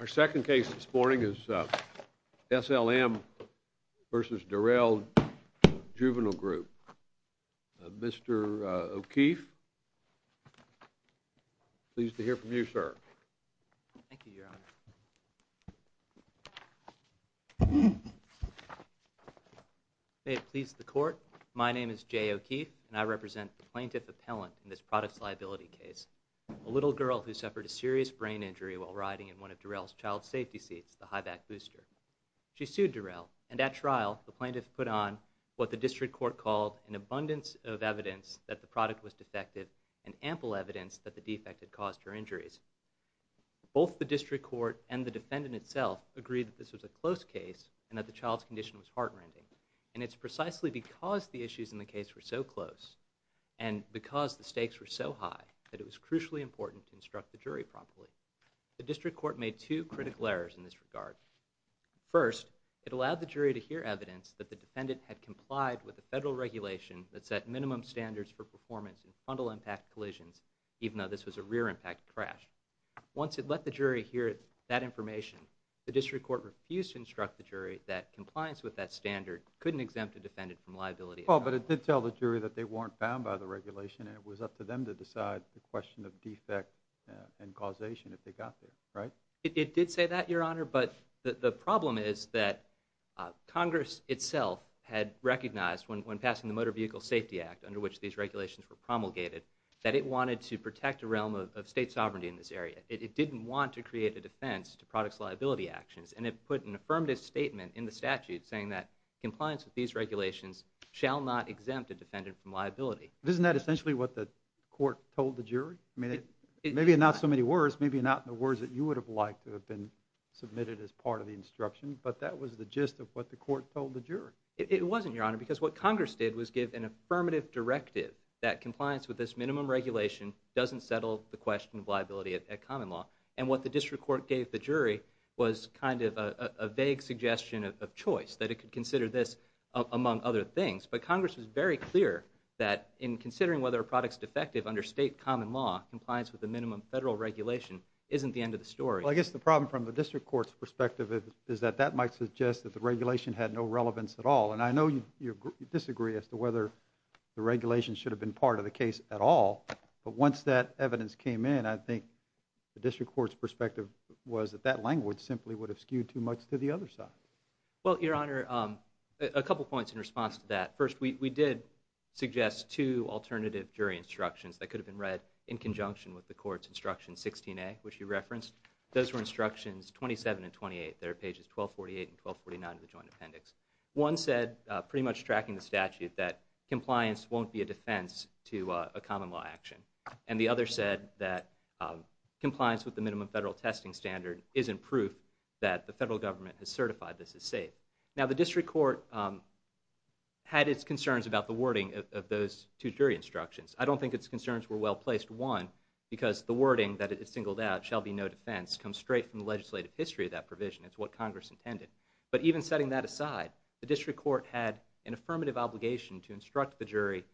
Our second case this morning is S. L. M. v. Dorel Juvenile Group. Mr. O'Keefe, pleased to hear from you, sir. Thank you, Your Honor. May it please the Court, my name is J. O'Keefe, and I represent the plaintiff appellant in this products liability case. A little girl who suffered a serious brain injury while riding in one of Dorel's child safety seats, the high-back booster. She sued Dorel, and at trial, the plaintiff put on what the district court called an abundance of evidence that the product was defective, and ample evidence that the defect had caused her injuries. Both the district court and the defendant itself agreed that this was a close case, and that the child's condition was heart-rending. And it's precisely because the issues in the case were so close, and because the stakes were so high, that it was crucially important to instruct the jury properly. The district court made two critical errors in this regard. First, it allowed the jury to hear evidence that the defendant had complied with a federal regulation that set minimum standards for performance in fundal impact collisions, even though this was a rear impact crash. Once it let the jury hear that information, the district court refused to instruct the jury that compliance with that standard couldn't exempt a defendant from liability. Well, but it did tell the jury that they weren't bound by the regulation, and it was up to them to decide the question of defect and causation if they got there, right? It did say that, Your Honor, but the problem is that Congress itself had recognized, when passing the Motor Vehicle Safety Act, under which these regulations were promulgated, that it wanted to protect a realm of state sovereignty in this area. It didn't want to create a defense to products' liability actions, and it put an affirmative statement in the statute saying that compliance with these regulations shall not exempt a defendant from liability. Isn't that essentially what the court told the jury? Maybe not in so many words, maybe not in the words that you would have liked to have been submitted as part of the instruction, but that was the gist of what the court told the jury. It wasn't, Your Honor, because what Congress did was give an affirmative directive that compliance with this minimum regulation doesn't settle the question of liability at common law, and what the district court gave the jury was kind of a vague suggestion of choice, that it could consider this among other things. But Congress was very clear that in considering whether a product's defective under state common law, compliance with the minimum federal regulation isn't the end of the story. Well, I guess the problem from the district court's perspective is that that might suggest that the regulation had no relevance at all, and I know you disagree as to whether the regulation should have been part of the case at all, but once that evidence came in, I think the district court's perspective was that that language simply would have skewed too much to the other side. Well, Your Honor, a couple points in response to that. First, we did suggest two alternative jury instructions that could have been read in conjunction with the court's instruction 16A, which you referenced. Those were instructions 27 and 28. They're pages 1248 and 1249 of the joint appendix. One said, pretty much tracking the statute, that compliance won't be a defense to a common law action, and the other said that compliance with the minimum federal testing standard isn't proof that the federal government has certified this is safe. Now, the district court had its concerns about the wording of those two jury instructions. I don't think its concerns were well placed, one, because the wording that it singled out, shall be no defense, comes straight from the legislative history of that provision. It's what Congress intended. But even setting that aside, the district court had an affirmative obligation to instruct the jury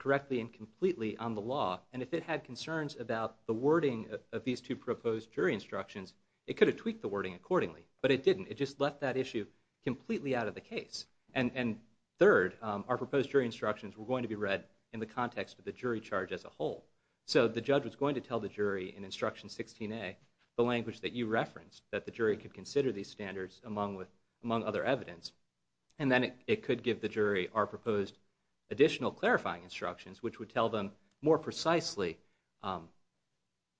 correctly and completely on the law. And if it had concerns about the wording of these two proposed jury instructions, it could have tweaked the wording accordingly. But it didn't. It just left that issue completely out of the case. And third, our proposed jury instructions were going to be read in the context of the jury charge as a whole. So the judge was going to tell the jury in instruction 16A, the language that you referenced, that the jury could consider these standards among other evidence. And then it could give the jury our proposed additional clarifying instructions, which would tell them more precisely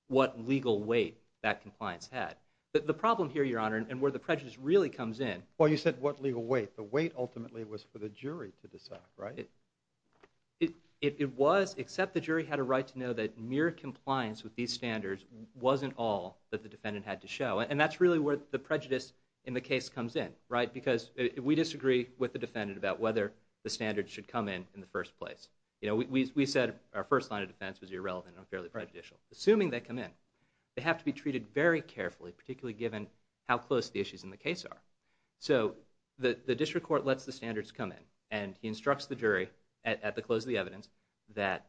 what legal weight that compliance had. The problem here, Your Honor, and where the prejudice really comes in. Well, you said what legal weight. The weight ultimately was for the jury to decide, right? It was, except the jury had a right to know that mere compliance with these standards wasn't all that the defendant had to show. And that's really where the prejudice in the case comes in, right? Because we disagree with the defendant about whether the standards should come in in the first place. You know, we said our first line of defense was irrelevant and unfairly prejudicial. Assuming they come in, they have to be treated very carefully, particularly given how close the issues in the case are. So the district court lets the standards come in. And he instructs the jury at the close of the evidence that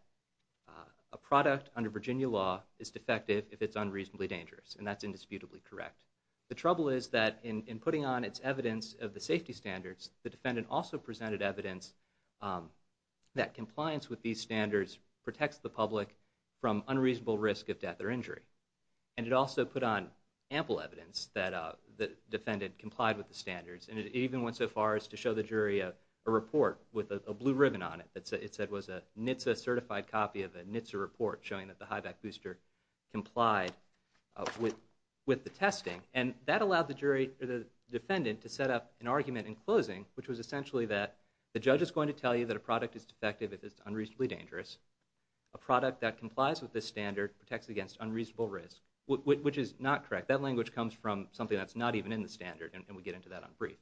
a product under Virginia law is defective if it's unreasonably dangerous. And that's indisputably correct. The trouble is that in putting on its evidence of the safety standards, the defendant also presented evidence that compliance with these standards protects the public from unreasonable risk of death or injury. And it also put on ample evidence that the defendant complied with the standards. And it even went so far as to show the jury a report with a blue ribbon on it that it said was a NHTSA-certified copy of a NHTSA report showing that the highback booster complied with the testing. And that allowed the defendant to set up an argument in closing, which was essentially that the judge is going to tell you that a product is defective if it's unreasonably dangerous. A product that complies with this standard protects against unreasonable risk, which is not correct. That language comes from something that's not even in the standard, and we get into that on brief.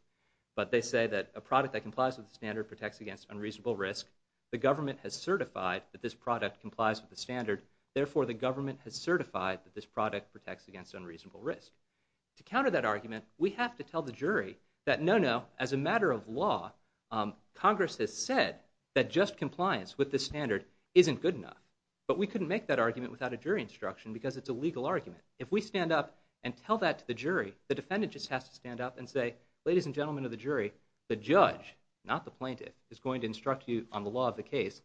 But they say that a product that complies with the standard protects against unreasonable risk. The government has certified that this product complies with the standard. Therefore, the government has certified that this product protects against unreasonable risk. To counter that argument, we have to tell the jury that, no, no, as a matter of law, Congress has said that just compliance with this standard isn't good enough. But we couldn't make that argument without a jury instruction because it's a legal argument. If we stand up and tell that to the jury, the defendant just has to stand up and say, ladies and gentlemen of the jury, the judge, not the plaintiff, is going to instruct you on the law of the case,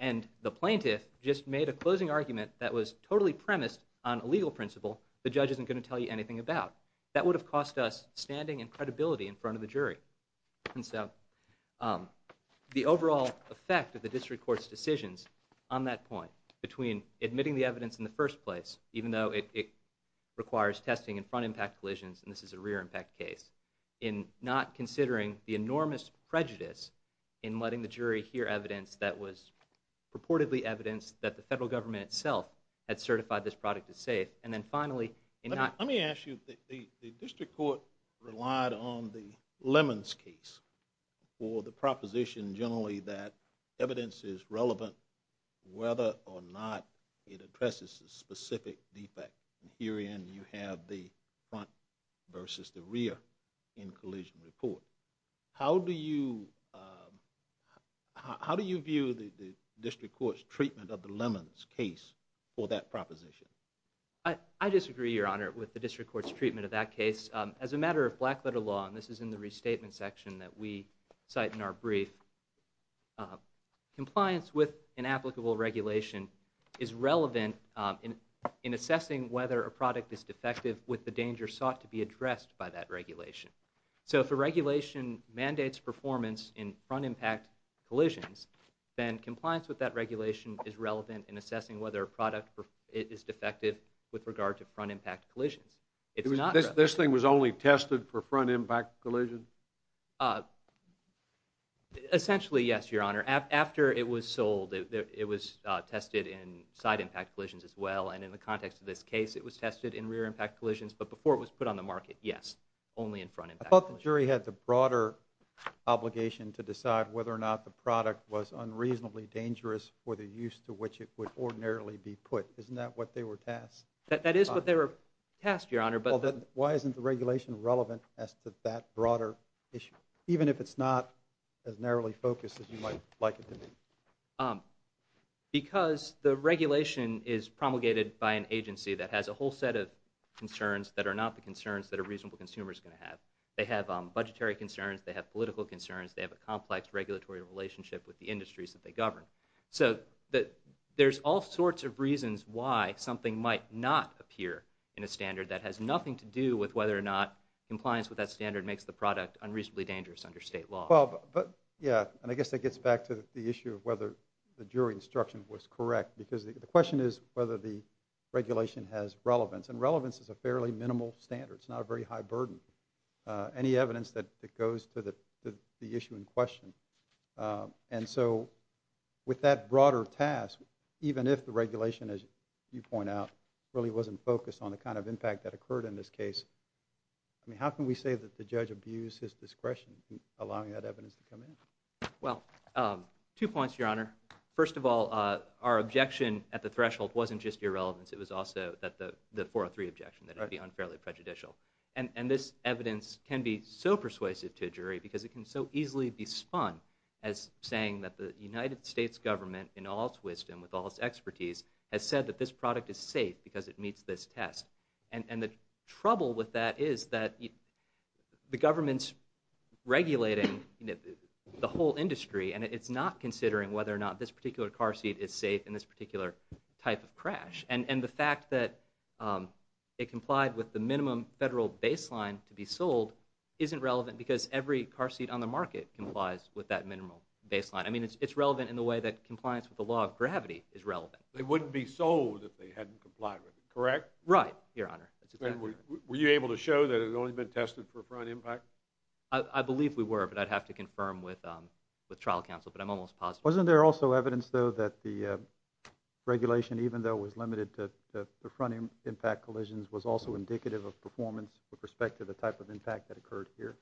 and the plaintiff just made a closing argument that was totally premised on a legal principle the judge isn't going to tell you anything about. That would have cost us standing and credibility in front of the jury. And so the overall effect of the district court's decisions on that point, between admitting the evidence in the first place, even though it requires testing in front impact collisions, and this is a rear impact case, in not considering the enormous prejudice in letting the jury hear evidence that was purportedly evidence that the federal government itself had certified this product as safe, and then finally in not... Let me ask you, the district court relied on the Lemons case for the proposition generally that evidence is relevant whether or not it addresses a specific defect. Herein you have the front versus the rear in collision report. How do you view the district court's treatment of the Lemons case for that proposition? I disagree, Your Honor, with the district court's treatment of that case. As a matter of black letter law, and this is in the restatement section that we cite in our brief, compliance with an applicable regulation is relevant in assessing whether a product is defective with the danger sought to be addressed by that regulation. So if a regulation mandates performance in front impact collisions, then compliance with that regulation is relevant in assessing whether a product is defective with regard to front impact collisions. This thing was only tested for front impact collisions? Essentially, yes, Your Honor. After it was sold, it was tested in side impact collisions as well, and in the context of this case it was tested in rear impact collisions, but before it was put on the market, yes, only in front impact collisions. I thought the jury had the broader obligation to decide whether or not the product was unreasonably dangerous for the use to which it would ordinarily be put. Isn't that what they were tasked? That is what they were tasked, Your Honor. Why isn't the regulation relevant as to that broader issue, even if it's not as narrowly focused as you might like it to be? Because the regulation is promulgated by an agency that has a whole set of concerns that are not the concerns that a reasonable consumer is going to have. They have budgetary concerns, they have political concerns, they have a complex regulatory relationship with the industries that they govern. So there's all sorts of reasons why something might not appear in a standard that has nothing to do with whether or not compliance with that standard makes the product unreasonably dangerous under state law. Yeah, and I guess that gets back to the issue of whether the jury instruction was correct, because the question is whether the regulation has relevance, and relevance is a fairly minimal standard. It's not a very high burden. Any evidence that goes to the issue in question. And so with that broader task, even if the regulation, as you point out, really wasn't focused on the kind of impact that occurred in this case, I mean, how can we say that the judge abused his discretion in allowing that evidence to come in? Well, two points, Your Honor. First of all, our objection at the threshold wasn't just irrelevance, it was also the 403 objection, that it would be unfairly prejudicial. And this evidence can be so persuasive to a jury because it can so easily be spun as saying that the United States government, in all its wisdom, with all its expertise, has said that this product is safe because it meets this test. And the trouble with that is that the government's regulating the whole industry, and it's not considering whether or not this particular car seat is safe in this particular type of crash. And the fact that it complied with the minimum federal baseline to be sold isn't relevant because every car seat on the market complies with that minimum baseline. I mean, it's relevant in the way that compliance with the law of gravity is relevant. They wouldn't be sold if they hadn't complied with it, correct? Right, Your Honor. Were you able to show that it had only been tested for front impact? I believe we were, but I'd have to confirm with trial counsel, but I'm almost positive. Wasn't there also evidence, though, that the regulation, even though it was limited to the front impact collisions, was also indicative of performance with respect to the type of impact that occurred here?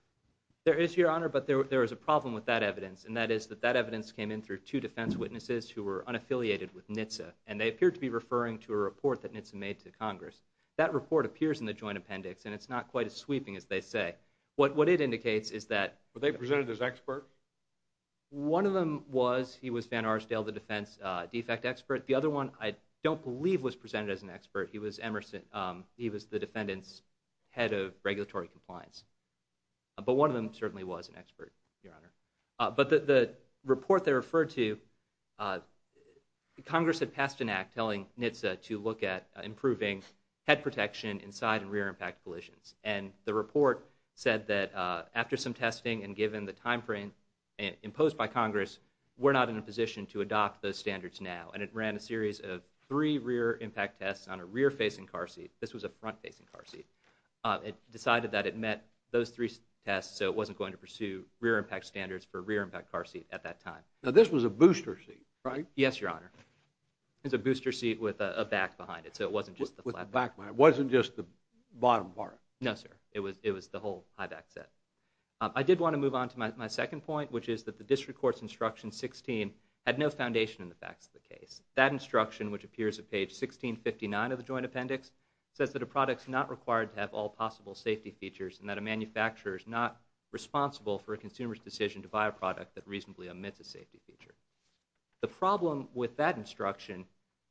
There is, Your Honor, but there is a problem with that evidence, and that is that that evidence came in through two defense witnesses who were unaffiliated with NHTSA, and they appeared to be referring to a report that NHTSA made to Congress. That report appears in the joint appendix, and it's not quite as sweeping as they say. What it indicates is that... Were they presented as experts? One of them was. He was Van Arsdale, the defense defect expert. The other one I don't believe was presented as an expert. He was Emerson. He was the defendant's head of regulatory compliance. But one of them certainly was an expert, Your Honor. But the report they referred to, Congress had passed an act telling NHTSA to look at improving head protection in side and rear impact collisions, and the report said that after some testing and given the time frame imposed by Congress, we're not in a position to adopt those standards now, and it ran a series of three rear impact tests on a rear-facing car seat. This was a front-facing car seat. It decided that it met those three tests, so it wasn't going to pursue rear impact standards for a rear impact car seat at that time. Now, this was a booster seat, right? Yes, Your Honor. It was a booster seat with a back behind it, so it wasn't just the flat back. It wasn't just the bottom part. No, sir. It was the whole high-back set. I did want to move on to my second point, which is that the district court's instruction 16 had no foundation in the facts of the case. That instruction, which appears at page 1659 of the joint appendix, says that a product is not required to have all possible safety features and that a manufacturer is not responsible for a consumer's decision to buy a product that reasonably omits a safety feature. The problem with that instruction,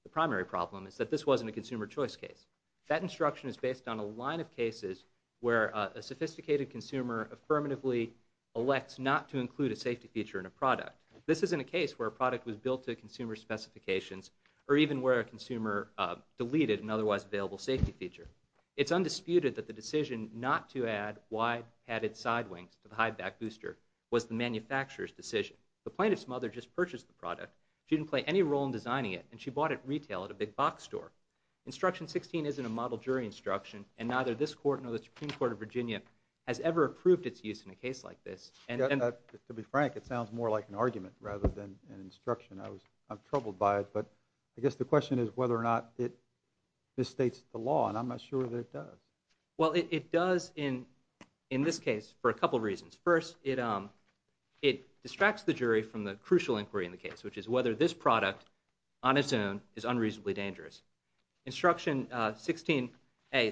the primary problem, is that this wasn't a consumer choice case. That instruction is based on a line of cases where a sophisticated consumer affirmatively elects not to include a safety feature in a product. This isn't a case where a product was built to a consumer's specifications or even where a consumer deleted an otherwise available safety feature. It's undisputed that the decision not to add wide-hatted side wings to the high-back booster was the manufacturer's decision. The plaintiff's mother just purchased the product. She didn't play any role in designing it, and she bought it retail at a big-box store. Instruction 16 isn't a model jury instruction, and neither this court nor the Supreme Court of Virginia has ever approved its use in a case like this. To be frank, it sounds more like an argument rather than an instruction. I'm troubled by it, but I guess the question is whether or not this states the law, and I'm not sure that it does. Well, it does in this case for a couple reasons. First, it distracts the jury from the crucial inquiry in the case, which is whether this product on its own is unreasonably dangerous. Instruction 16A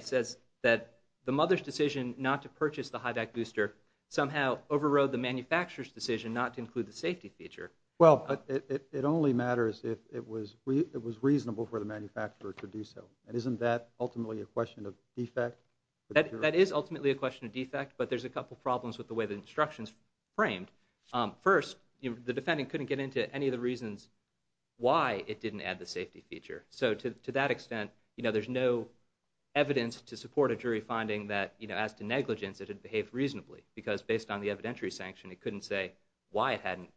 says that the mother's decision not to purchase the high-back booster somehow overrode the manufacturer's decision not to include the safety feature. Well, it only matters if it was reasonable for the manufacturer to do so, and isn't that ultimately a question of defect? That is ultimately a question of defect, but there's a couple problems with the way the instruction's framed. First, the defendant couldn't get into any of the reasons why it didn't add the safety feature. So to that extent, there's no evidence to support a jury finding that, as to negligence, it had behaved reasonably because, based on the evidentiary sanction, it couldn't say why it hadn't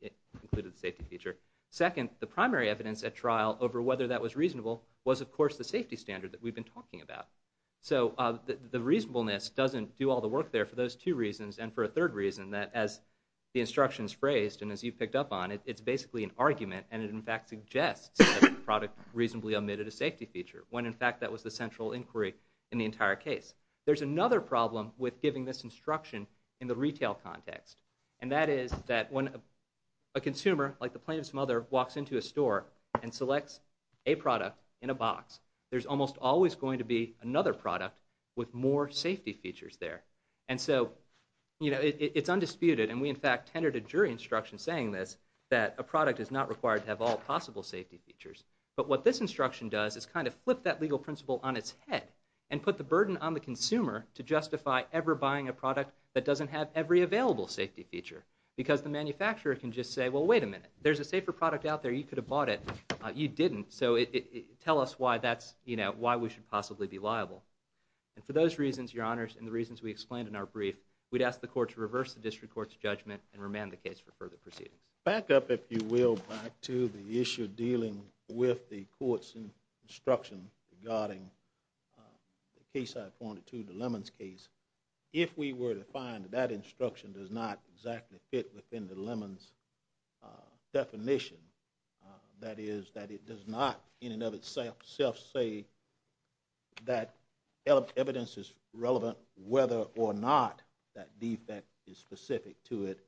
included the safety feature. Second, the primary evidence at trial over whether that was reasonable was, of course, the safety standard that we've been talking about. So the reasonableness doesn't do all the work there for those two reasons, and for a third reason that, as the instruction's phrased and as you picked up on, it's basically an argument, and it, in fact, suggests that the product reasonably omitted a safety feature when, in fact, that was the central inquiry in the entire case. There's another problem with giving this instruction in the retail context, and that is that when a consumer, like the plaintiff's mother, walks into a store and selects a product in a box, there's almost always going to be another product with more safety features there. And so, you know, it's undisputed, and we, in fact, tendered a jury instruction saying this, that a product is not required to have all possible safety features. But what this instruction does is kind of flip that legal principle on its head and put the burden on the consumer to justify ever buying a product that doesn't have every available safety feature, because the manufacturer can just say, well, wait a minute, there's a safer product out there. You could have bought it. You didn't, so tell us why that's, you know, why we should possibly be liable. And for those reasons, Your Honors, and the reasons we explained in our brief, we'd ask the court to reverse the district court's judgment and remand the case for further proceedings. Back up, if you will, back to the issue dealing with the court's instruction regarding the case I pointed to, the lemons case. If we were to find that that instruction does not exactly fit within the lemons definition, that is, that it does not in and of itself say that evidence is relevant whether or not that defect is specific to it,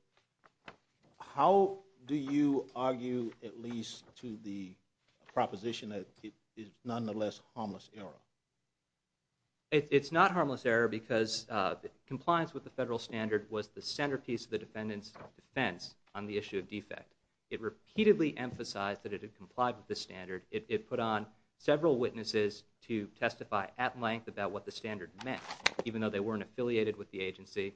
how do you argue at least to the proposition that it is nonetheless harmless error? It's not harmless error because compliance with the federal standard was the centerpiece of the defendant's defense on the issue of defect. It repeatedly emphasized that it had complied with the standard. It put on several witnesses to testify at length about what the standard meant, even though they weren't affiliated with the agency.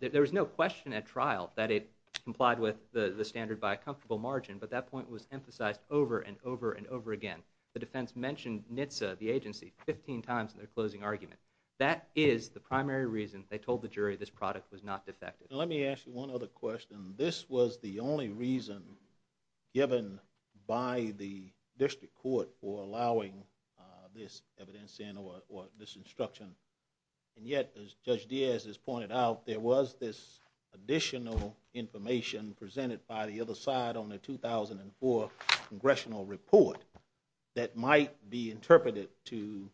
There was no question at trial that it complied with the standard by a comfortable margin, but that point was emphasized over and over and over again. The defense mentioned NHTSA, the agency, 15 times in their closing argument. That is the primary reason they told the jury this product was not defective. Let me ask you one other question. This was the only reason given by the district court for allowing this evidence in or this instruction, and yet, as Judge Diaz has pointed out, there was this additional information presented by the other side on the 2004 congressional report that might be interpreted to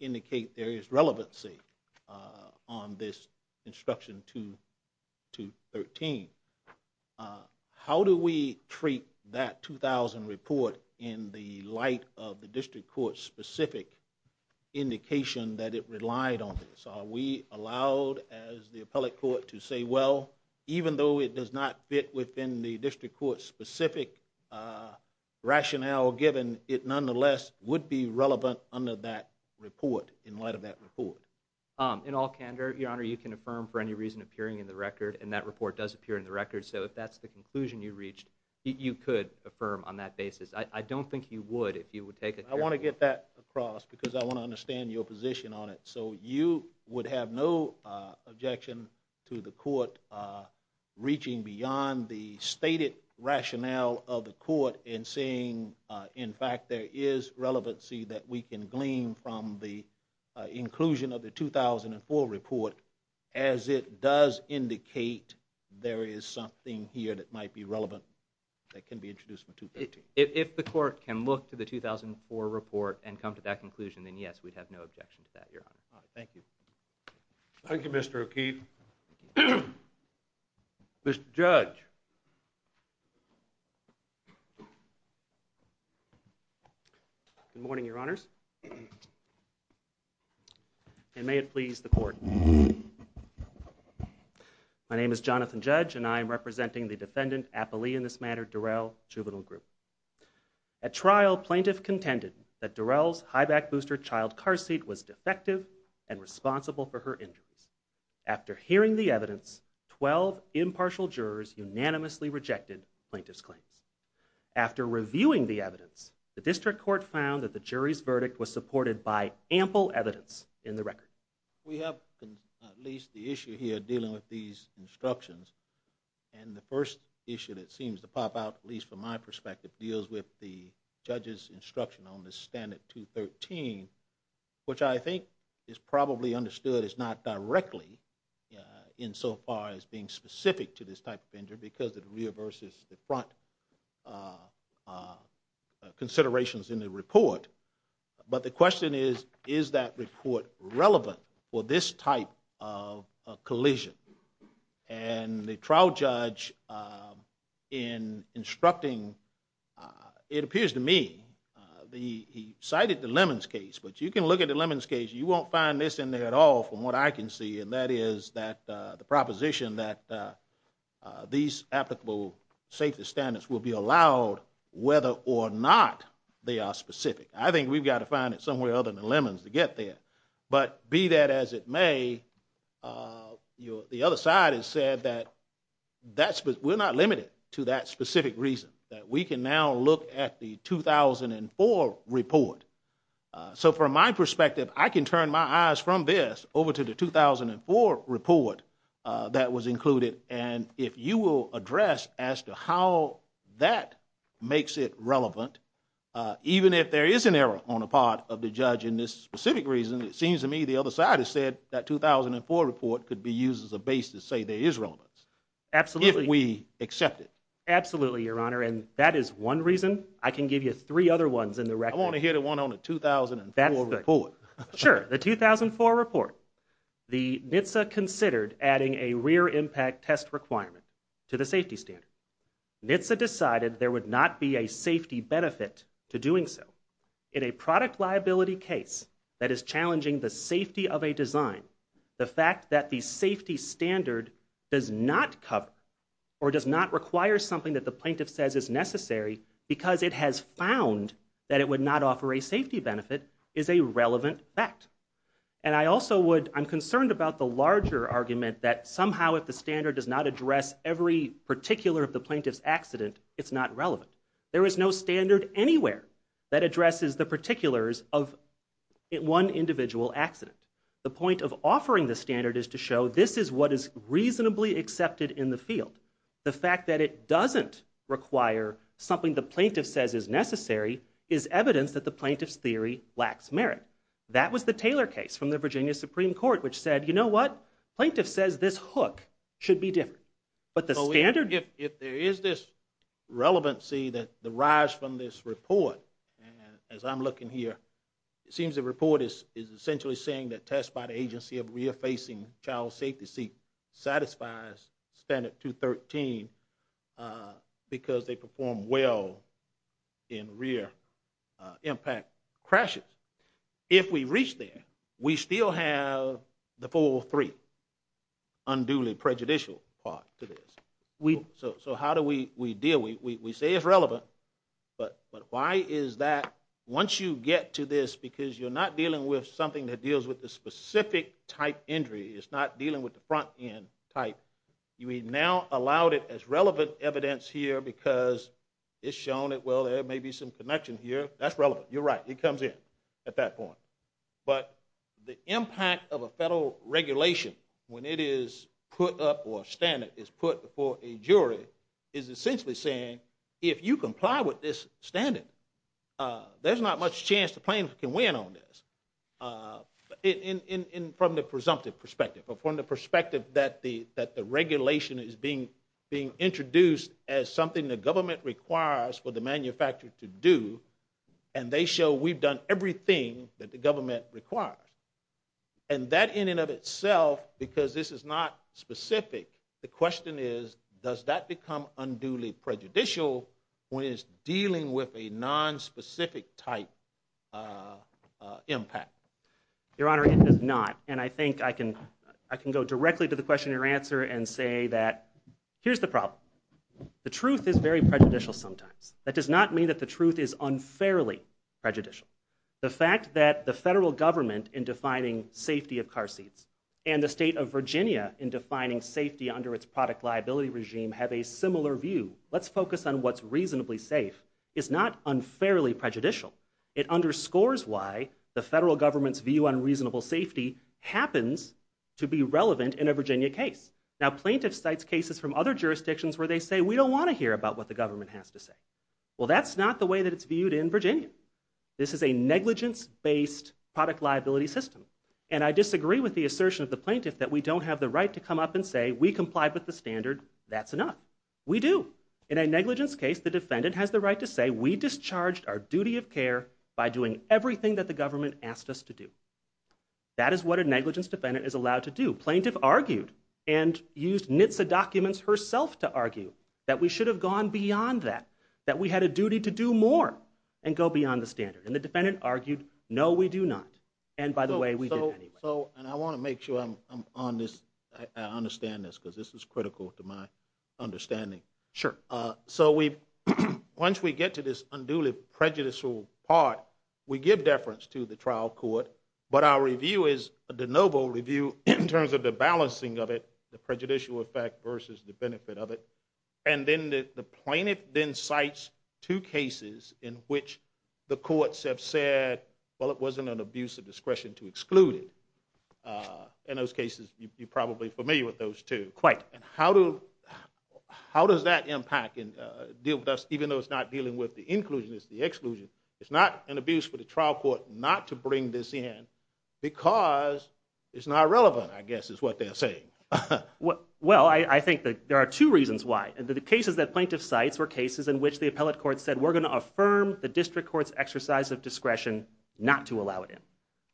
indicate there is relevancy on this instruction 213. How do we treat that 2000 report in the light of the district court's specific indication that it relied on this? Are we allowed, as the appellate court, to say, well, even though it does not fit within the district court's specific rationale given, it nonetheless would be relevant under that report in light of that report? In all candor, Your Honor, you can affirm for any reason appearing in the record, and that report does appear in the record. So if that's the conclusion you reached, you could affirm on that basis. I don't think you would if you would take it. I want to get that across because I want to understand your position on it. So you would have no objection to the court reaching beyond the stated rationale of the court and saying, in fact, there is relevancy that we can glean from the inclusion of the 2004 report as it does indicate there is something here that might be relevant that can be introduced in 213? If the court can look to the 2004 report and come to that conclusion, then yes, we'd have no objection to that, Your Honor. Thank you. Thank you, Mr. O'Keefe. Mr. Judge. Good morning, Your Honors. And may it please the court. My name is Jonathan Judge, and I am representing the defendant, Apolli in this matter, Durrell, Juvenile Group. At trial, plaintiff contended that Durrell's high-back booster child car seat was defective and responsible for her injuries. After hearing the evidence, 12 impartial jurors unanimously rejected plaintiff's claims. After reviewing the evidence, the district court found that the jury's verdict was supported by ample evidence in the record. We have at least the issue here dealing with these instructions, and the first issue that seems to pop out, at least from my perspective, deals with the judge's instruction on the standard 213, which I think is probably understood as not directly insofar as being specific to this type of injury because it reverses the front considerations in the report. But the question is, is that report relevant for this type of collision? And the trial judge in instructing, it appears to me, he cited the Lemons case, but you can look at the Lemons case, you won't find this in there at all from what I can see, and that is that the proposition that these applicable safety standards will be allowed whether or not they are specific. I think we've got to find it somewhere other than the Lemons to get there. But be that as it may, the other side has said that we're not limited to that specific reason, that we can now look at the 2004 report. So from my perspective, I can turn my eyes from this over to the 2004 report that was included, and if you will address as to how that makes it relevant, even if there is an error on the part of the judge in this specific reason, it seems to me the other side has said that 2004 report could be used as a base to say there is relevance. Absolutely. If we accept it. Absolutely, Your Honor, and that is one reason. I can give you three other ones in the record. I want to hear the one on the 2004 report. Sure. The 2004 report, the NHTSA considered adding a rear impact test requirement to the safety standard. NHTSA decided there would not be a safety benefit to doing so. In a product liability case that is challenging the safety of a design, the fact that the safety standard does not cover or does not require something that the plaintiff says is necessary because it has found that it would not offer a safety benefit is a relevant fact. And I also would, I'm concerned about the larger argument that somehow if the standard does not address every particular of the plaintiff's accident, it's not relevant. There is no standard anywhere that addresses the particulars of one individual accident. The point of offering the standard is to show this is what is reasonably accepted in the field. The fact that it doesn't require something the plaintiff says is necessary is evidence that the plaintiff's theory lacks merit. That was the Taylor case from the Virginia Supreme Court which said, you know what? Plaintiff says this hook should be different. If there is this relevancy that derives from this report, as I'm looking here, it seems the report is essentially saying that tests by the agency of rear-facing child safety seat satisfies standard 213 because they perform well in rear impact crashes. If we reach there, we still have the 403 unduly prejudicial part to this. So how do we deal? We say it's relevant, but why is that? Once you get to this, because you're not dealing with something that deals with the specific type injury, it's not dealing with the front-end type, you now allowed it as relevant evidence here because it's shown that, well, there may be some connection here. That's relevant. You're right. It comes in at that point. But the impact of a federal regulation when it is put up or a standard is put before a jury is essentially saying if you comply with this standard, there's not much chance the plaintiff can win on this from the presumptive perspective or from the perspective that the regulation is being introduced as something the government requires for the manufacturer to do, and they show we've done everything that the government requires. And that in and of itself, because this is not specific, the question is, does that become unduly prejudicial when it's dealing with a nonspecific type impact? Your Honor, it does not. And I think I can go directly to the question and answer and say that here's the problem. The truth is very prejudicial sometimes. That does not mean that the truth is unfairly prejudicial. The fact that the federal government in defining safety of car seats and the state of Virginia in defining safety under its product liability regime have a similar view, let's focus on what's reasonably safe, is not unfairly prejudicial. It underscores why the federal government's view on reasonable safety happens to be relevant in a Virginia case. Now, plaintiffs cite cases from other jurisdictions where they say we don't want to hear about what the government has to say. Well, that's not the way that it's viewed in Virginia. This is a negligence-based product liability system. And I disagree with the assertion of the plaintiff that we don't have the right to come up and say we complied with the standard, that's enough. We do. In a negligence case, the defendant has the right to say we discharged our duty of care by doing everything that the government asked us to do. That is what a negligence defendant is allowed to do. Plaintiff argued and used NHTSA documents herself to argue that we should have gone beyond that, that we had a duty to do more and go beyond the standard. And the defendant argued, no, we do not. And, by the way, we did anyway. And I want to make sure I understand this because this is critical to my understanding. Sure. So once we get to this unduly prejudicial part, we give deference to the trial court, but our review is a de novo review in terms of the balancing of it, the prejudicial effect versus the benefit of it. And then the plaintiff then cites two cases in which the courts have said, well, it wasn't an abuse of discretion to exclude it. In those cases, you're probably familiar with those two. Quite. And how does that impact and deal with us even though it's not dealing with the inclusion, it's the exclusion? It's not an abuse for the trial court not to bring this in because it's not relevant, I guess, is what they're saying. Well, I think there are two reasons why. The cases that plaintiff cites were cases in which the appellate court said, we're going to affirm the district court's exercise of discretion not to allow it in.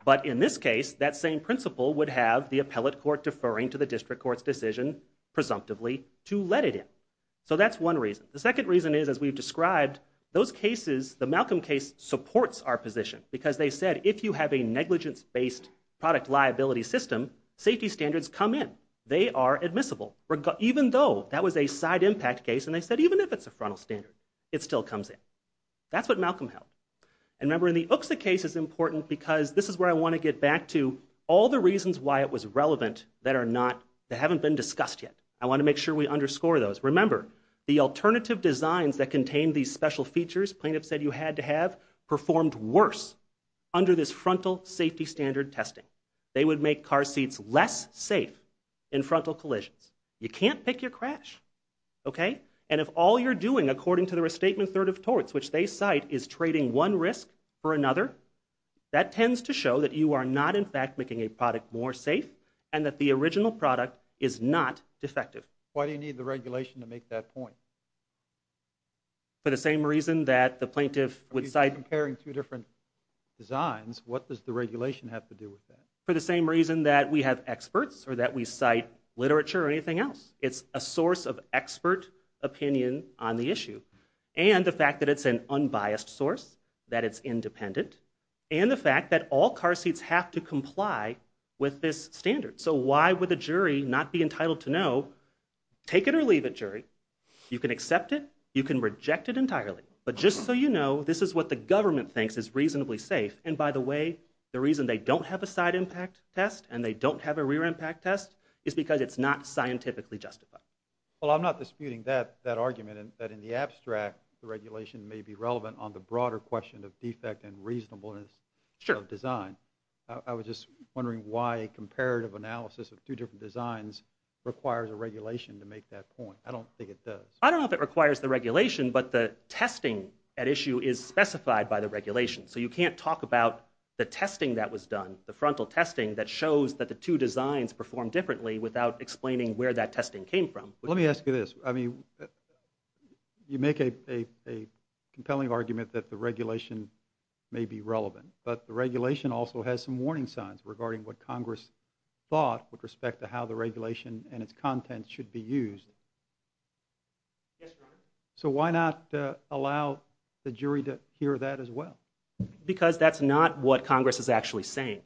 But in this case, that same principle would have the appellate court deferring to the district court's decision, presumptively, to let it in. So that's one reason. The second reason is, as we've described, those cases, the Malcolm case supports our position because they said if you have a negligence-based product liability system, safety standards come in. They are admissible. Even though that was a side impact case, and they said even if it's a frontal standard, it still comes in. That's what Malcolm held. And remember, in the OOKSA case, it's important because this is where I want to get back to all the reasons why it was relevant that haven't been discussed yet. I want to make sure we underscore those. Remember, the alternative designs that contain these special features, plaintiffs said you had to have, performed worse under this frontal safety standard testing. They would make car seats less safe in frontal collisions. You can't pick your crash, okay? And if all you're doing, according to the Restatement Third of Torts, which they cite, is trading one risk for another, that tends to show that you are not, in fact, making a product more safe, and that the original product is not defective. Why do you need the regulation to make that point? For the same reason that the plaintiff would cite... For the same reason that we have experts or that we cite literature or anything else. It's a source of expert opinion on the issue. And the fact that it's an unbiased source, that it's independent, and the fact that all car seats have to comply with this standard. So why would the jury not be entitled to know? Take it or leave it, jury. You can accept it. You can reject it entirely. But just so you know, this is what the government thinks is reasonably safe. And by the way, the reason they don't have a side impact test and they don't have a rear impact test is because it's not scientifically justified. Well, I'm not disputing that argument, that in the abstract the regulation may be relevant on the broader question of defect and reasonableness of design. I was just wondering why a comparative analysis of two different designs requires a regulation to make that point. I don't think it does. I don't know if it requires the regulation, but the testing at issue is specified by the regulation. So you can't talk about the testing that was done, the frontal testing, that shows that the two designs performed differently without explaining where that testing came from. Let me ask you this. I mean, you make a compelling argument that the regulation may be relevant, but the regulation also has some warning signs regarding what Congress thought with respect to how the regulation and its contents should be used. Yes, Your Honor. So why not allow the jury to hear that as well? Because that's not what Congress is actually saying.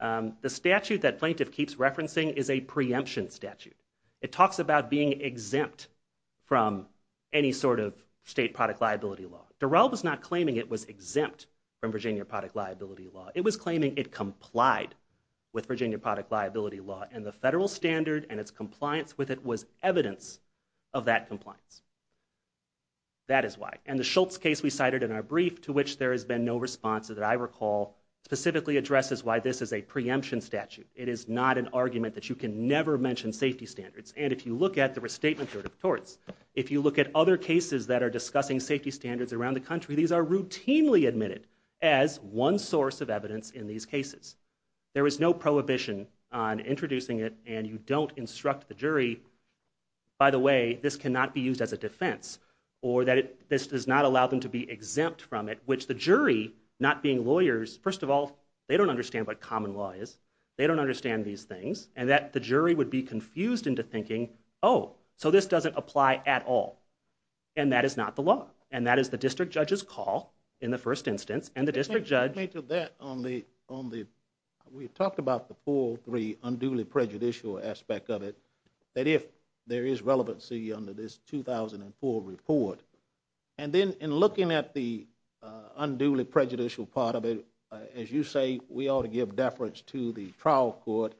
The statute that plaintiff keeps referencing is a preemption statute. It talks about being exempt from any sort of state product liability law. Durrell was not claiming it was exempt from Virginia product liability law. It was claiming it complied with Virginia product liability law, and the federal standard and its compliance with it was evidence of that compliance. That is why. And the Schultz case we cited in our brief, to which there has been no response to that I recall, specifically addresses why this is a preemption statute. It is not an argument that you can never mention safety standards. And if you look at the Restatement Court of Torts, if you look at other cases that are discussing safety standards around the country, these are routinely admitted as one source of evidence in these cases. There is no prohibition on introducing it, and you don't instruct the jury, by the way, this cannot be used as a defense, or that this does not allow them to be exempt from it, which the jury, not being lawyers, first of all, they don't understand what common law is. They don't understand these things, and that the jury would be confused into thinking, oh, so this doesn't apply at all. And that is not the law, and that is the district judge's call in the first instance, and the district judge... Let me make a comment to that. We talked about the 403 unduly prejudicial aspect of it, that if there is relevancy under this 2004 report, and then in looking at the unduly prejudicial part of it, as you say, we ought to give deference to the trial court,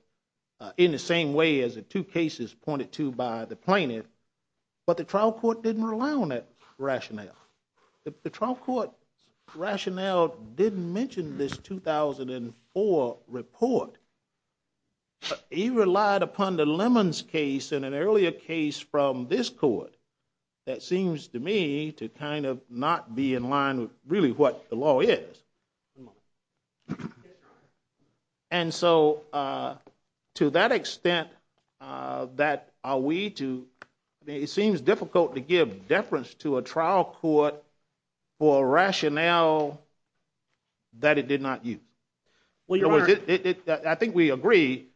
in the same way as the two cases pointed to by the plaintiff, but the trial court didn't rely on that rationale. The trial court rationale didn't mention this 2004 report. He relied upon the Lemons case and an earlier case from this court that seems to me to kind of not be in line with really what the law is. And so to that extent that are we to... We ought to give deference to a trial court for a rationale that it did not use. I think we agree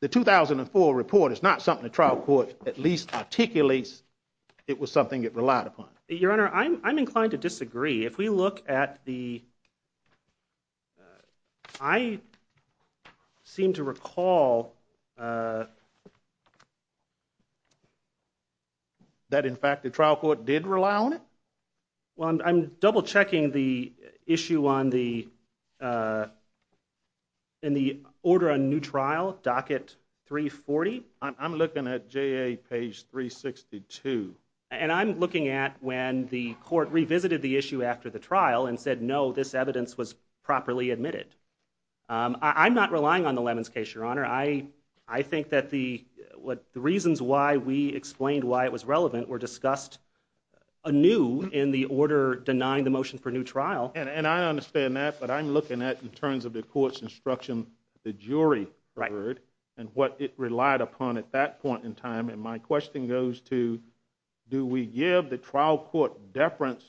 the 2004 report is not something the trial court at least articulates it was something it relied upon. Your Honor, I'm inclined to disagree. If we look at the... I seem to recall that, in fact, the trial court did rely on it. Well, I'm double-checking the issue in the order on new trial, docket 340. I'm looking at JA page 362. And I'm looking at when the court revisited the issue after the trial and said, no, this evidence was properly admitted. I'm not relying on the Lemons case, Your Honor. I think that the reasons why we explained why it was relevant were discussed anew in the order denying the motion for new trial. And I understand that, but I'm looking at, in terms of the court's instruction, the jury heard and what it relied upon at that point in time. And my question goes to, do we give the trial court deference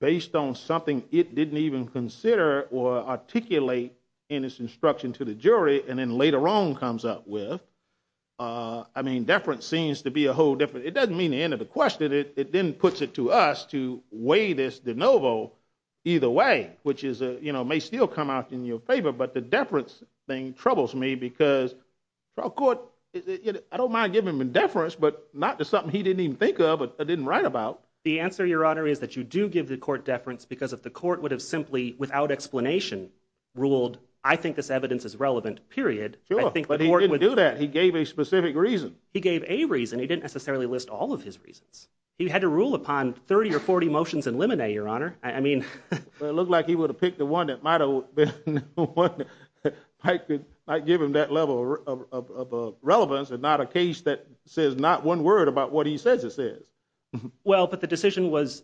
based on something it didn't even consider or articulate in its instruction to the jury and then later on comes up with? I mean, deference seems to be a whole different... It doesn't mean the end of the question. It then puts it to us to weigh this de novo either way, which may still come out in your favor. But the deference thing troubles me because trial court, I don't mind giving them a deference, but not to something he didn't even think of or didn't write about. The answer, Your Honor, is that you do give the court deference because if the court would have simply, without explanation, ruled, I think this evidence is relevant, period. Sure, but he didn't do that. He gave a specific reason. He gave a reason. He didn't necessarily list all of his reasons. He had to rule upon 30 or 40 motions in limine, Your Honor. It looked like he would have picked the one that might have been the one that might give him that level of relevance and not a case that says not one word about what he says it says. Well, but the decision was...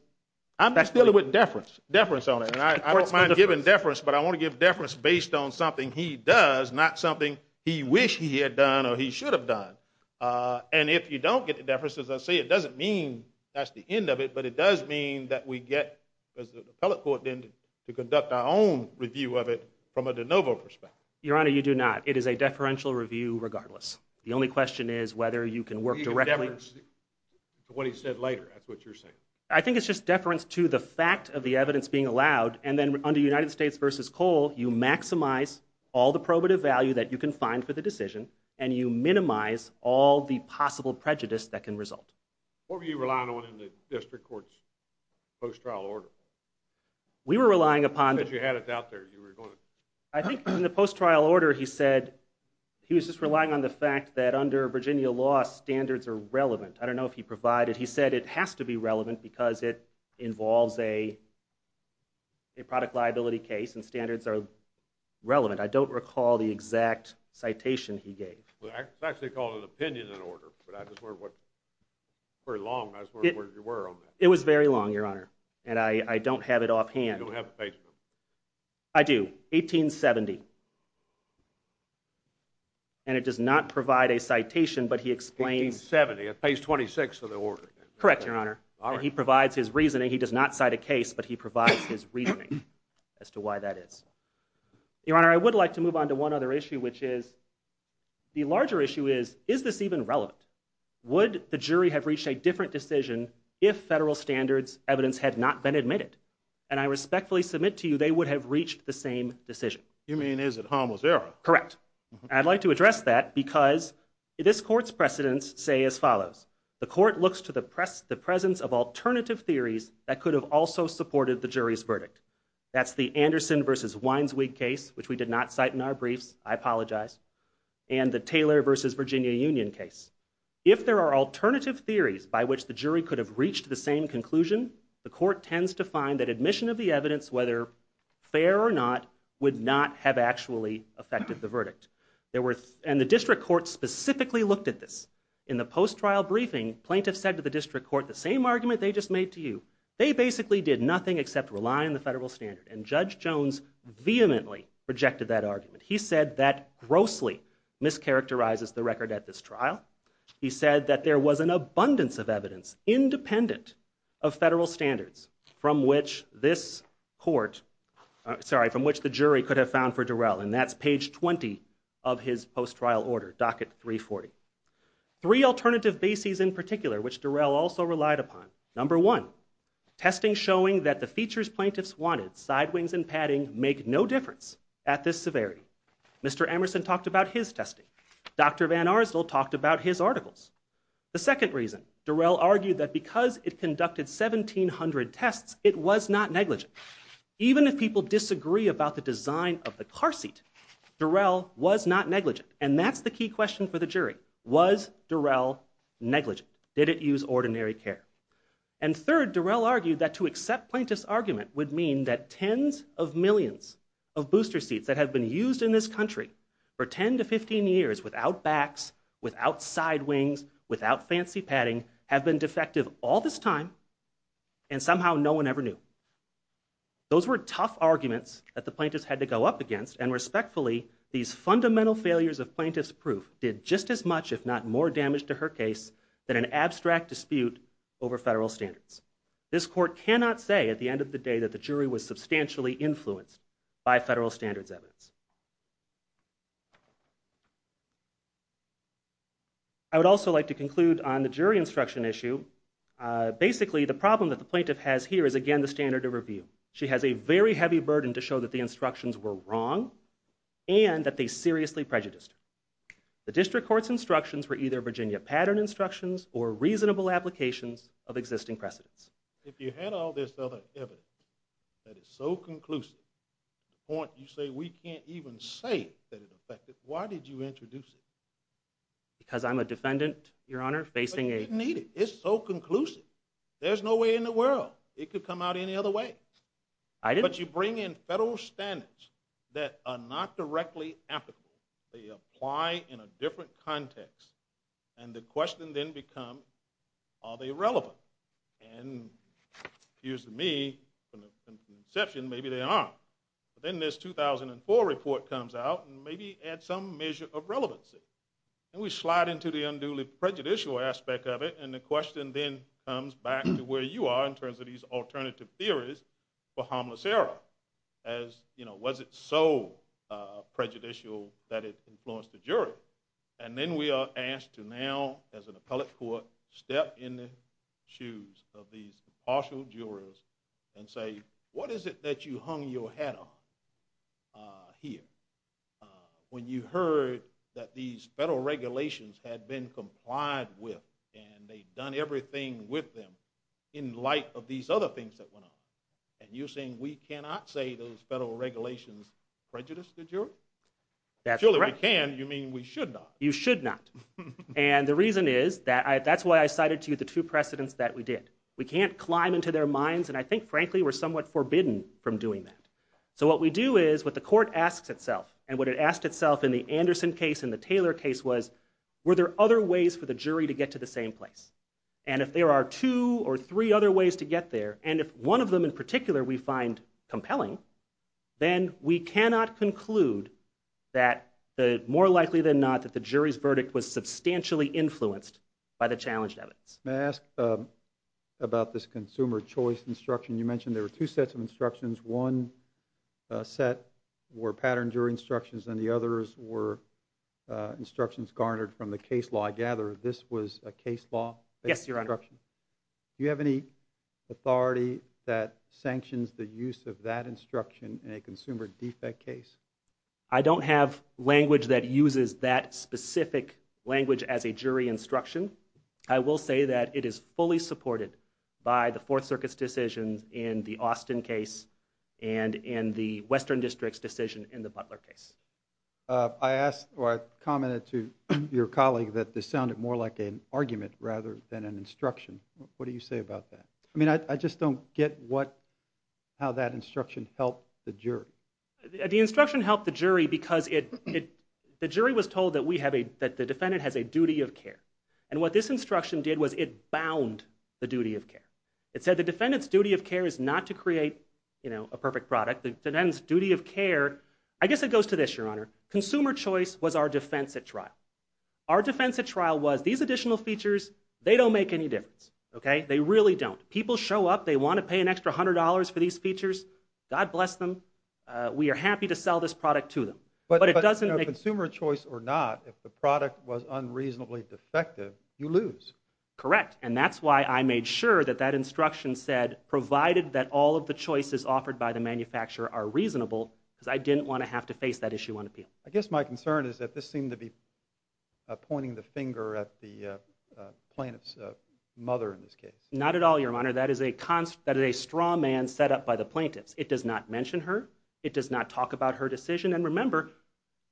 I'm just dealing with deference on it. I don't mind giving deference, but I want to give deference based on something he does, not something he wished he had done or he should have done. And if you don't get the deference, as I say, it doesn't mean that's the end of it, but it does mean that we get the appellate court then to conduct our own review of it from a de novo perspective. Your Honor, you do not. It is a deferential review regardless. The only question is whether you can work directly... He gave deference to what he said later. That's what you're saying. I think it's just deference to the fact of the evidence being allowed, and then under United States v. Cole, you maximize all the probative value that you can find for the decision and you minimize all the possible prejudice that can result. What were you relying on in the district court's post-trial order? We were relying upon... Because you had it out there, you were going to... I think in the post-trial order, he said... He was just relying on the fact that under Virginia law, standards are relevant. I don't know if he provided... He said it has to be relevant because it involves a product liability case and standards are relevant. I don't recall the exact citation he gave. It's actually called an opinion in order, but I just wondered what... It's very long. I just wondered where you were on that. It was very long, Your Honor, and I don't have it offhand. You don't have the page number? I do. 1870. And it does not provide a citation, but he explains... 1870. Page 26 of the order. Correct, Your Honor. And he provides his reasoning. He does not cite a case, but he provides his reasoning as to why that is. Your Honor, I would like to move on to one other issue, which is... The larger issue is, is this even relevant? Would the jury have reached a different decision if federal standards evidence had not been admitted? And I respectfully submit to you they would have reached the same decision. You mean, is it harmless error? Correct. I'd like to address that because this court's precedents say as follows. The court looks to the presence of alternative theories that could have also supported the jury's verdict. That's the Anderson v. Winesweek case, which we did not cite in our briefs. I apologize. And the Taylor v. Virginia Union case. If there are alternative theories by which the jury could have reached the same conclusion, the court tends to find that admission of the evidence, whether fair or not, would not have actually affected the verdict. And the district court specifically looked at this. In the post-trial briefing, plaintiffs said to the district court the same argument they just made to you. They basically did nothing except rely on the federal standard. And Judge Jones vehemently rejected that argument. He said that grossly mischaracterizes the record at this trial. He said that there was an abundance of evidence independent of federal standards from which this court, sorry, from which the jury could have found for Durrell. And that's page 20 of his post-trial order, docket 340. Three alternative bases in particular, which Durrell also relied upon. Number one, testing showing that the features plaintiffs wanted, side wings and padding, make no difference at this severity. Mr. Emerson talked about his testing. Dr. Van Arsdell talked about his articles. The second reason, Durrell argued that because it conducted 1,700 tests, it was not negligent. Even if people disagree about the design of the car seat, Durrell was not negligent. And that's the key question for the jury. Was Durrell negligent? Did it use ordinary care? And third, Durrell argued that to accept plaintiffs' argument would mean that tens of millions of booster seats that have been used in this country for 10 to 15 years without backs, without side wings, without fancy padding, have been defective all this time and somehow no one ever knew. Those were tough arguments that the plaintiffs had to go up against, and respectfully, these fundamental failures of plaintiffs' proof did just as much, if not more, damage to her case than an abstract dispute over federal standards. This court cannot say at the end of the day that the jury was substantially influenced by federal standards evidence. I would also like to conclude on the jury instruction issue. Basically, the problem that the plaintiff has here is again the standard of review. She has a very heavy burden to show that the instructions were wrong and that they seriously prejudiced her. The district court's instructions were either Virginia pattern instructions or reasonable applications of existing precedents. If you had all this other evidence that is so conclusive to the point you say we can't even say that it affected, why did you introduce it? Because I'm a defendant, Your Honor, facing a... But you didn't need it. It's so conclusive. There's no way in the world it could come out any other way. I didn't... But you bring in federal standards that are not directly applicable. They apply in a different context, and the question then becomes, are they relevant? And it appears to me, from the conception, maybe they are. But then this 2004 report comes out and maybe adds some measure of relevancy. And we slide into the unduly prejudicial aspect of it, and the question then comes back to where you are in terms of these alternative theories for harmless error as, you know, was it so prejudicial that it influenced the jury? And then we are asked to now, as an appellate court, step in the shoes of these impartial jurors and say, what is it that you hung your hat on here when you heard that these federal regulations had been complied with and they'd done everything with them in light of these other things that went on? And you're saying we cannot say those federal regulations prejudiced the jury? Surely we can, you mean we should not. You should not. And the reason is, that's why I cited to you the two precedents that we did. We can't climb into their minds, and I think, frankly, we're somewhat forbidden from doing that. So what we do is, what the court asks itself, and what it asked itself in the Anderson case and the Taylor case was, were there other ways for the jury to get to the same place? And if there are two or three other ways to get there, and if one of them in particular we find compelling, then we cannot conclude that, more likely than not, that the jury's verdict was substantially influenced by the challenged evidence. May I ask about this consumer choice instruction? You mentioned there were two sets of instructions. One set were patterned jury instructions, and the others were instructions garnered from the case law. I gather this was a case law? Yes, Your Honor. Do you have any authority that sanctions the use of that instruction in a consumer defect case? I don't have language that uses that specific language as a jury instruction. I will say that it is fully supported by the Fourth Circuit's decisions in the Austin case and in the Western District's decision in the Butler case. I asked, or I commented to your colleague that this sounded more like an argument rather than an instruction. What do you say about that? I just don't get how that instruction helped the jury. The instruction helped the jury because the jury was told that the defendant has a duty of care, and what this instruction did was it bound the duty of care. It said the defendant's duty of care is not to create a perfect product. The defendant's duty of care... I guess it goes to this, Your Honor. Consumer choice was our defense at trial. Our defense at trial was, these additional features, they don't make any difference. They really don't. People show up, they want to pay an extra $100 for these features, God bless them, we are happy to sell this product to them. But consumer choice or not, if the product was unreasonably defective, you lose. Correct, and that's why I made sure that that instruction said, provided that all of the choices offered by the manufacturer are reasonable, because I didn't want to have to face that issue on appeal. I guess my concern is that this seemed to be directed at the plaintiff's mother in this case. Not at all, Your Honor. That is a straw man set up by the plaintiffs. It does not mention her. It does not talk about her decision. And remember,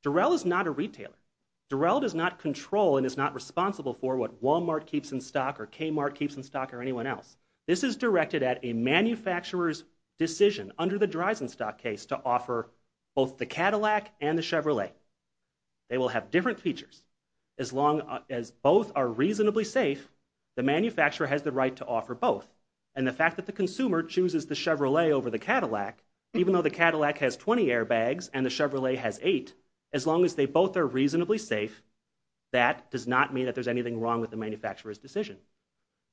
Durrell is not a retailer. Durrell does not control and is not responsible for what Walmart keeps in stock or Kmart keeps in stock or anyone else. This is directed at a manufacturer's decision under the Dreisenstock case to offer both the Cadillac and the Chevrolet. They will have different features as long as both are reasonably safe, the manufacturer has the right to offer both. And the fact that the consumer chooses the Chevrolet over the Cadillac, even though the Cadillac has 20 airbags and the Chevrolet has eight, as long as they both are reasonably safe, that does not mean that there's anything wrong with the manufacturer's decision.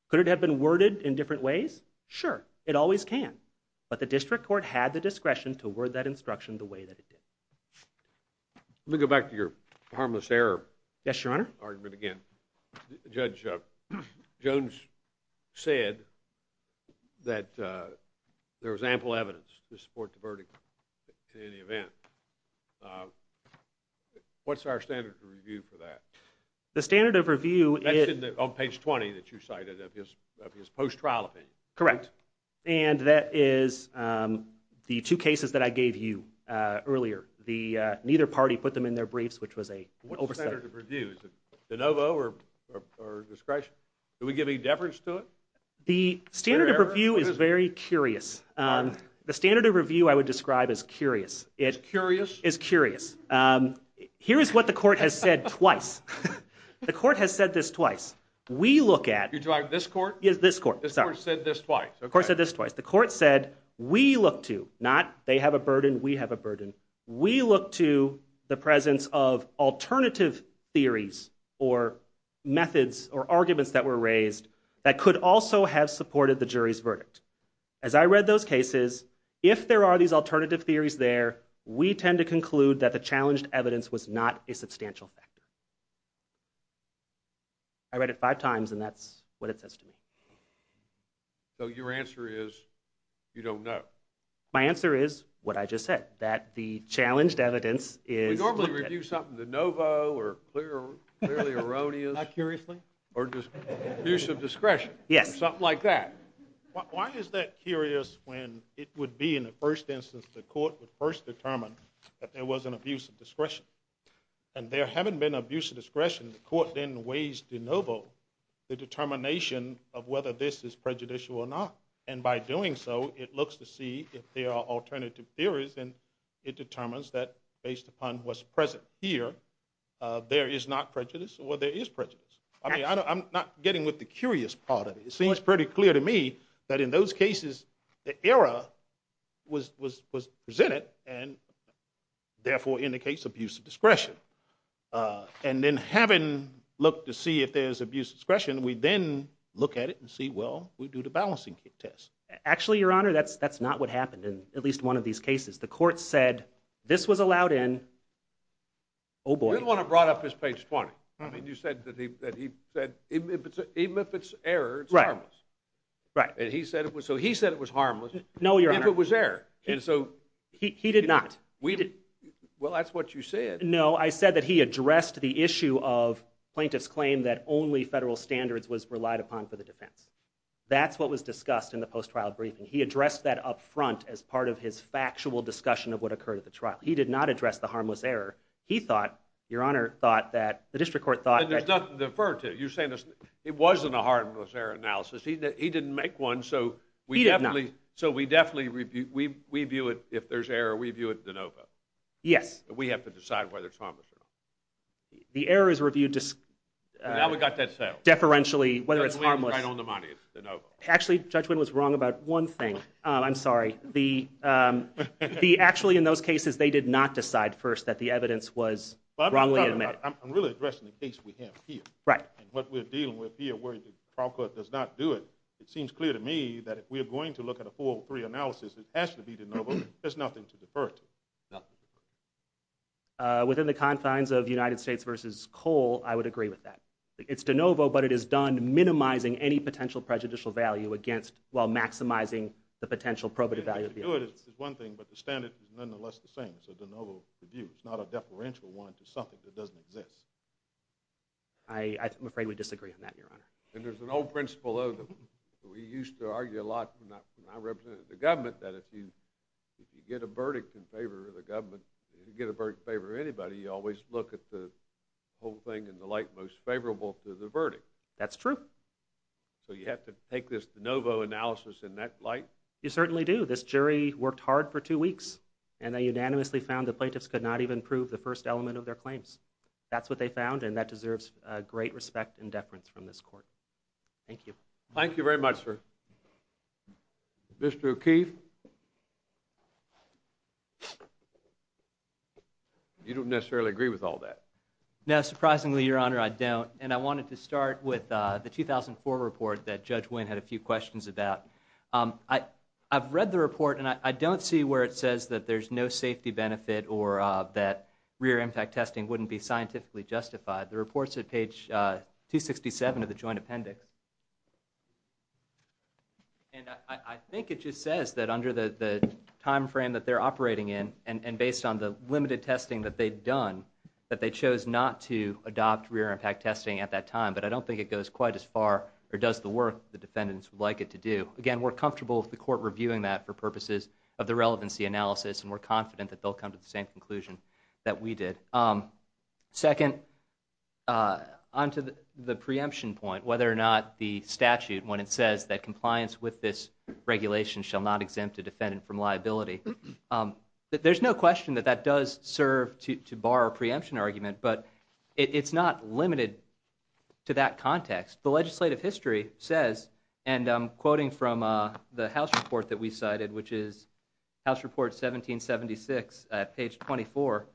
Could it have been worded in different ways? Sure, it always can. But the district court had the discretion to word that instruction the way that it did. Let me go back to your harmless error argument again. Judge, Jones said that there was ample evidence to support the verdict in any event. What's our standard of review for that? The standard of review is... That's on page 20 that you cited of his post-trial opinion. Correct, and that is the two cases that I gave you earlier. Neither party put them in their briefs, which was an oversight. What's the standard of review? Is it de novo or discretion? Do we give any deference to it? The standard of review is very curious. The standard of review I would describe as curious. As curious? As curious. Here is what the court has said twice. The court has said this twice. We look at... You're talking about this court? Yes, this court. This court said this twice. The court said we look to, not they have a burden, we have a burden. We look to the presence of alternative theories or methods or arguments that were raised that could also have supported the jury's verdict. As I read those cases, if there are these alternative theories there, we tend to conclude that the challenged evidence was not a substantial factor. I read it five times, and that's what it says to me. So your answer is you don't know. My answer is what I just said, that the challenged evidence is... We normally review something de novo or clearly erroneous. Not curiously. Or just abuse of discretion. Yes. Something like that. Why is that curious when it would be, in the first instance, the court would first determine that there was an abuse of discretion. And there having been abuse of discretion, the court then weighs de novo the determination of whether this is prejudicial or not. And by doing so, it looks to see if there are alternative theories, and it determines that, based upon what's present here, there is not prejudice or there is prejudice. I'm not getting with the curious part of it. It seems pretty clear to me that in those cases, the error was presented and therefore indicates abuse of discretion. And then having looked to see if there's abuse of discretion, we then look at it and see, well, we do the balancing test. Actually, Your Honor, that's not what happened in at least one of these cases. The court said this was allowed in... Oh, boy. The one that brought up is page 20. I mean, you said that he said, even if it's error, it's harmless. Right. So he said it was harmless. No, Your Honor. If it was error. He did not. Well, that's what you said. No, I said that he addressed the issue of plaintiff's claim that only federal standards was relied upon for the defense. That's what was discussed in the post-trial briefing. He addressed that up front as part of his factual discussion of what occurred at the trial. He did not address the harmless error. He thought, Your Honor, thought that... And there's nothing to defer to. You're saying it wasn't a harmless error analysis. He didn't make one, so... He did not. So we definitely review... We view it... If there's error, we view it de novo. Yes. We have to decide whether it's harmless or not. The error is reviewed... Now we got that settled. ...deferentially, whether it's harmless. Judge Wynn is right on the money. It's de novo. Actually, Judge Wynn was wrong about one thing. I'm sorry. The... Actually, in those cases, they did not decide first that the evidence was wrongly admitted. I'm really addressing the case we have here. Right. And what we're dealing with here, where the trial court does not do it, it seems clear to me that if we're going to look at a 403 analysis, it has to be de novo. There's nothing to defer to. Nothing to defer to. Within the confines of United States v. Cole, I would agree with that. It's de novo, but it is done minimizing any potential prejudicial value against... while maximizing the potential probative value of the evidence. To do it is one thing, but the standard is nonetheless the same. It's a de novo review. It's not a deferential one to something that doesn't exist. I'm afraid we disagree on that, Your Honor. And there's an old principle, though, that we used to argue a lot when I represented the government, that if you get a verdict in favor of the government, if you get a verdict in favor of anybody, you always look at the whole thing in the light most favorable to the verdict. That's true. So you have to take this de novo analysis in that light? You certainly do. This jury worked hard for two weeks, and they unanimously found the plaintiffs could not even prove the first element of their claims. That's what they found, and that deserves great respect and deference from this court. Thank you. Thank you very much, sir. Mr. O'Keefe? You don't necessarily agree with all that. No, surprisingly, Your Honor, I don't. And I wanted to start with the 2004 report that Judge Wynn had a few questions about. I've read the report, and I don't see where it says that there's no safety benefit or that rear-impact testing wouldn't be scientifically justified. The report's at page 267 of the joint appendix. And I think it just says that under the time frame that they're operating in, and based on the limited testing that they've done, that they chose not to adopt rear-impact testing at that time. But I don't think it goes quite as far or does the work the defendants would like it to do. Again, we're comfortable with the court reviewing that for purposes of the relevancy analysis, and we're confident that they'll come to the same conclusion that we did. Second, on to the preemption point, whether or not the statute, when it says that compliance with this regulation shall not exempt a defendant from liability, there's no question that that does serve to bar a preemption argument, but it's not limited to that context. The legislative history says, and I'm quoting from the House report that we cited, which is House Report 1776 at page 24,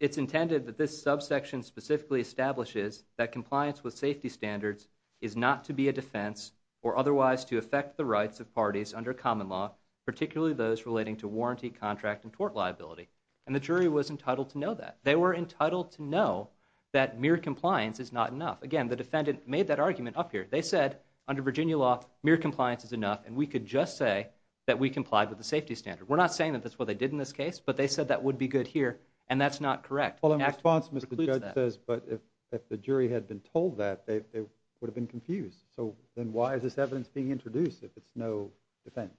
it's intended that this subsection specifically establishes that compliance with safety standards is not to be a defense or otherwise to affect the rights of parties under common law, particularly those relating to warranty, contract, and tort liability. And the jury was entitled to know that. They were entitled to know that mere compliance is not enough. Again, the defendant made that argument up here. They said, under Virginia law, mere compliance is enough, and we could just say that we complied with the safety standard. We're not saying that's what they did in this case, but they said that would be good here, and that's not correct. Well, in response, Mr. Judge says, but if the jury had been told that, they would have been confused. So then why is this evidence being introduced if it's no defense?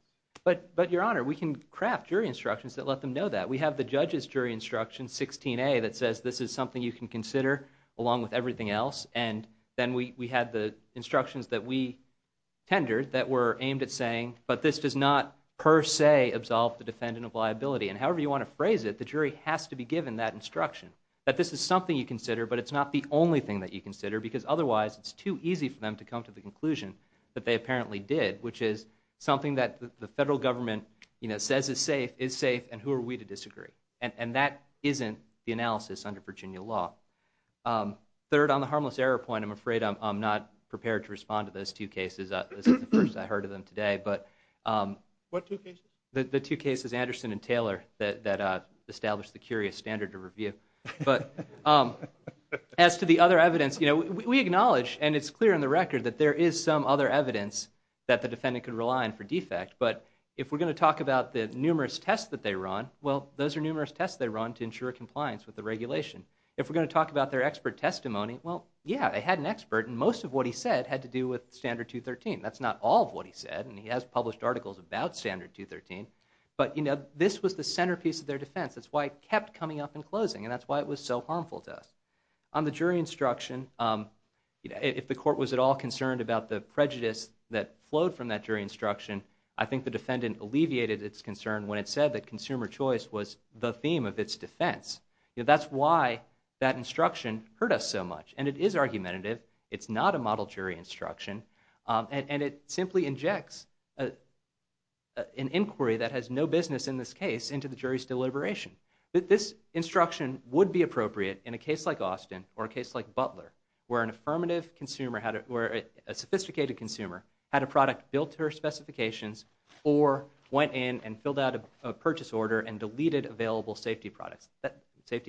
But, Your Honor, we can craft jury instructions that let them know that. We have the judge's jury instruction, 16A, that says this is something you can consider along with everything else, and then we had the instructions that we tendered that were aimed at saying, but this does not per se absolve the defendant of liability. And however you want to phrase it, the jury has to be given that instruction, that this is something you consider, but it's not the only thing that you consider, because otherwise it's too easy for them to come to the conclusion that they apparently did, which is something that the federal government says is safe, is safe, and who are we to disagree? And that isn't the analysis under Virginia law. Third, on the harmless error point, I'm afraid I'm not prepared to respond to those two cases. This is the first I heard of them today. What two cases? The two cases, Anderson and Taylor, that established the curious standard to review. But as to the other evidence, you know, we acknowledge, and it's clear in the record that there is some other evidence that the defendant could rely on for defect, but if we're going to talk about the numerous tests that they were on, well, those are numerous tests they were on to ensure compliance with the regulation. If we're going to talk about their expert testimony, well, yeah, they had an expert, and most of what he said had to do with Standard 213. That's not all of what he said, and he has published articles about Standard 213, but this was the centerpiece of their defense. That's why it kept coming up in closing, and that's why it was so harmful to us. On the jury instruction, if the court was at all concerned about the prejudice that flowed from that jury instruction, I think the defendant alleviated its concern when it said that consumer choice was the theme of its defense. You know, that's why that instruction hurt us so much, and it is argumentative. It's not a model jury instruction, and it simply injects an inquiry that has no business in this case into the jury's deliberation. This instruction would be appropriate in a case like Austin or a case like Butler, where a sophisticated consumer had a product built to her specifications or went in and filled out a purchase order and deleted available safety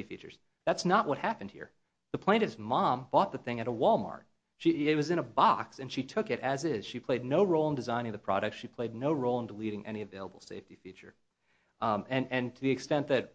features. That's not what happened here. The plaintiff's mom bought the thing at a Walmart. It was in a box, and she took it as is. She played no role in designing the product. She played no role in deleting any available safety feature. And to the extent that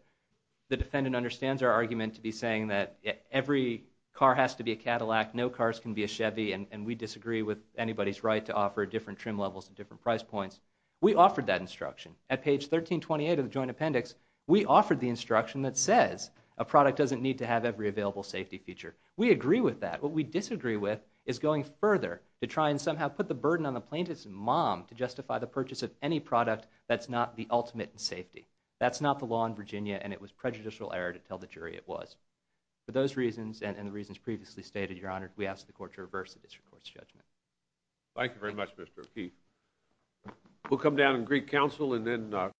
the defendant understands our argument to be saying that every car has to be a Cadillac, no cars can be a Chevy, and we disagree with anybody's right to offer different trim levels and different price points, we offered that instruction. At page 1328 of the joint appendix, we offered the instruction that says a product doesn't need to have every available safety feature. We agree with that. What we disagree with is going further to try and somehow put the burden on the plaintiff's mom to justify the purchase of any product that's not the ultimate in safety. That's not the law in Virginia, and it was prejudicial error to tell the jury it was. For those reasons and the reasons previously stated, Your Honor, we ask the court to reverse the district court's judgment. Thank you very much, Mr. O'Keefe.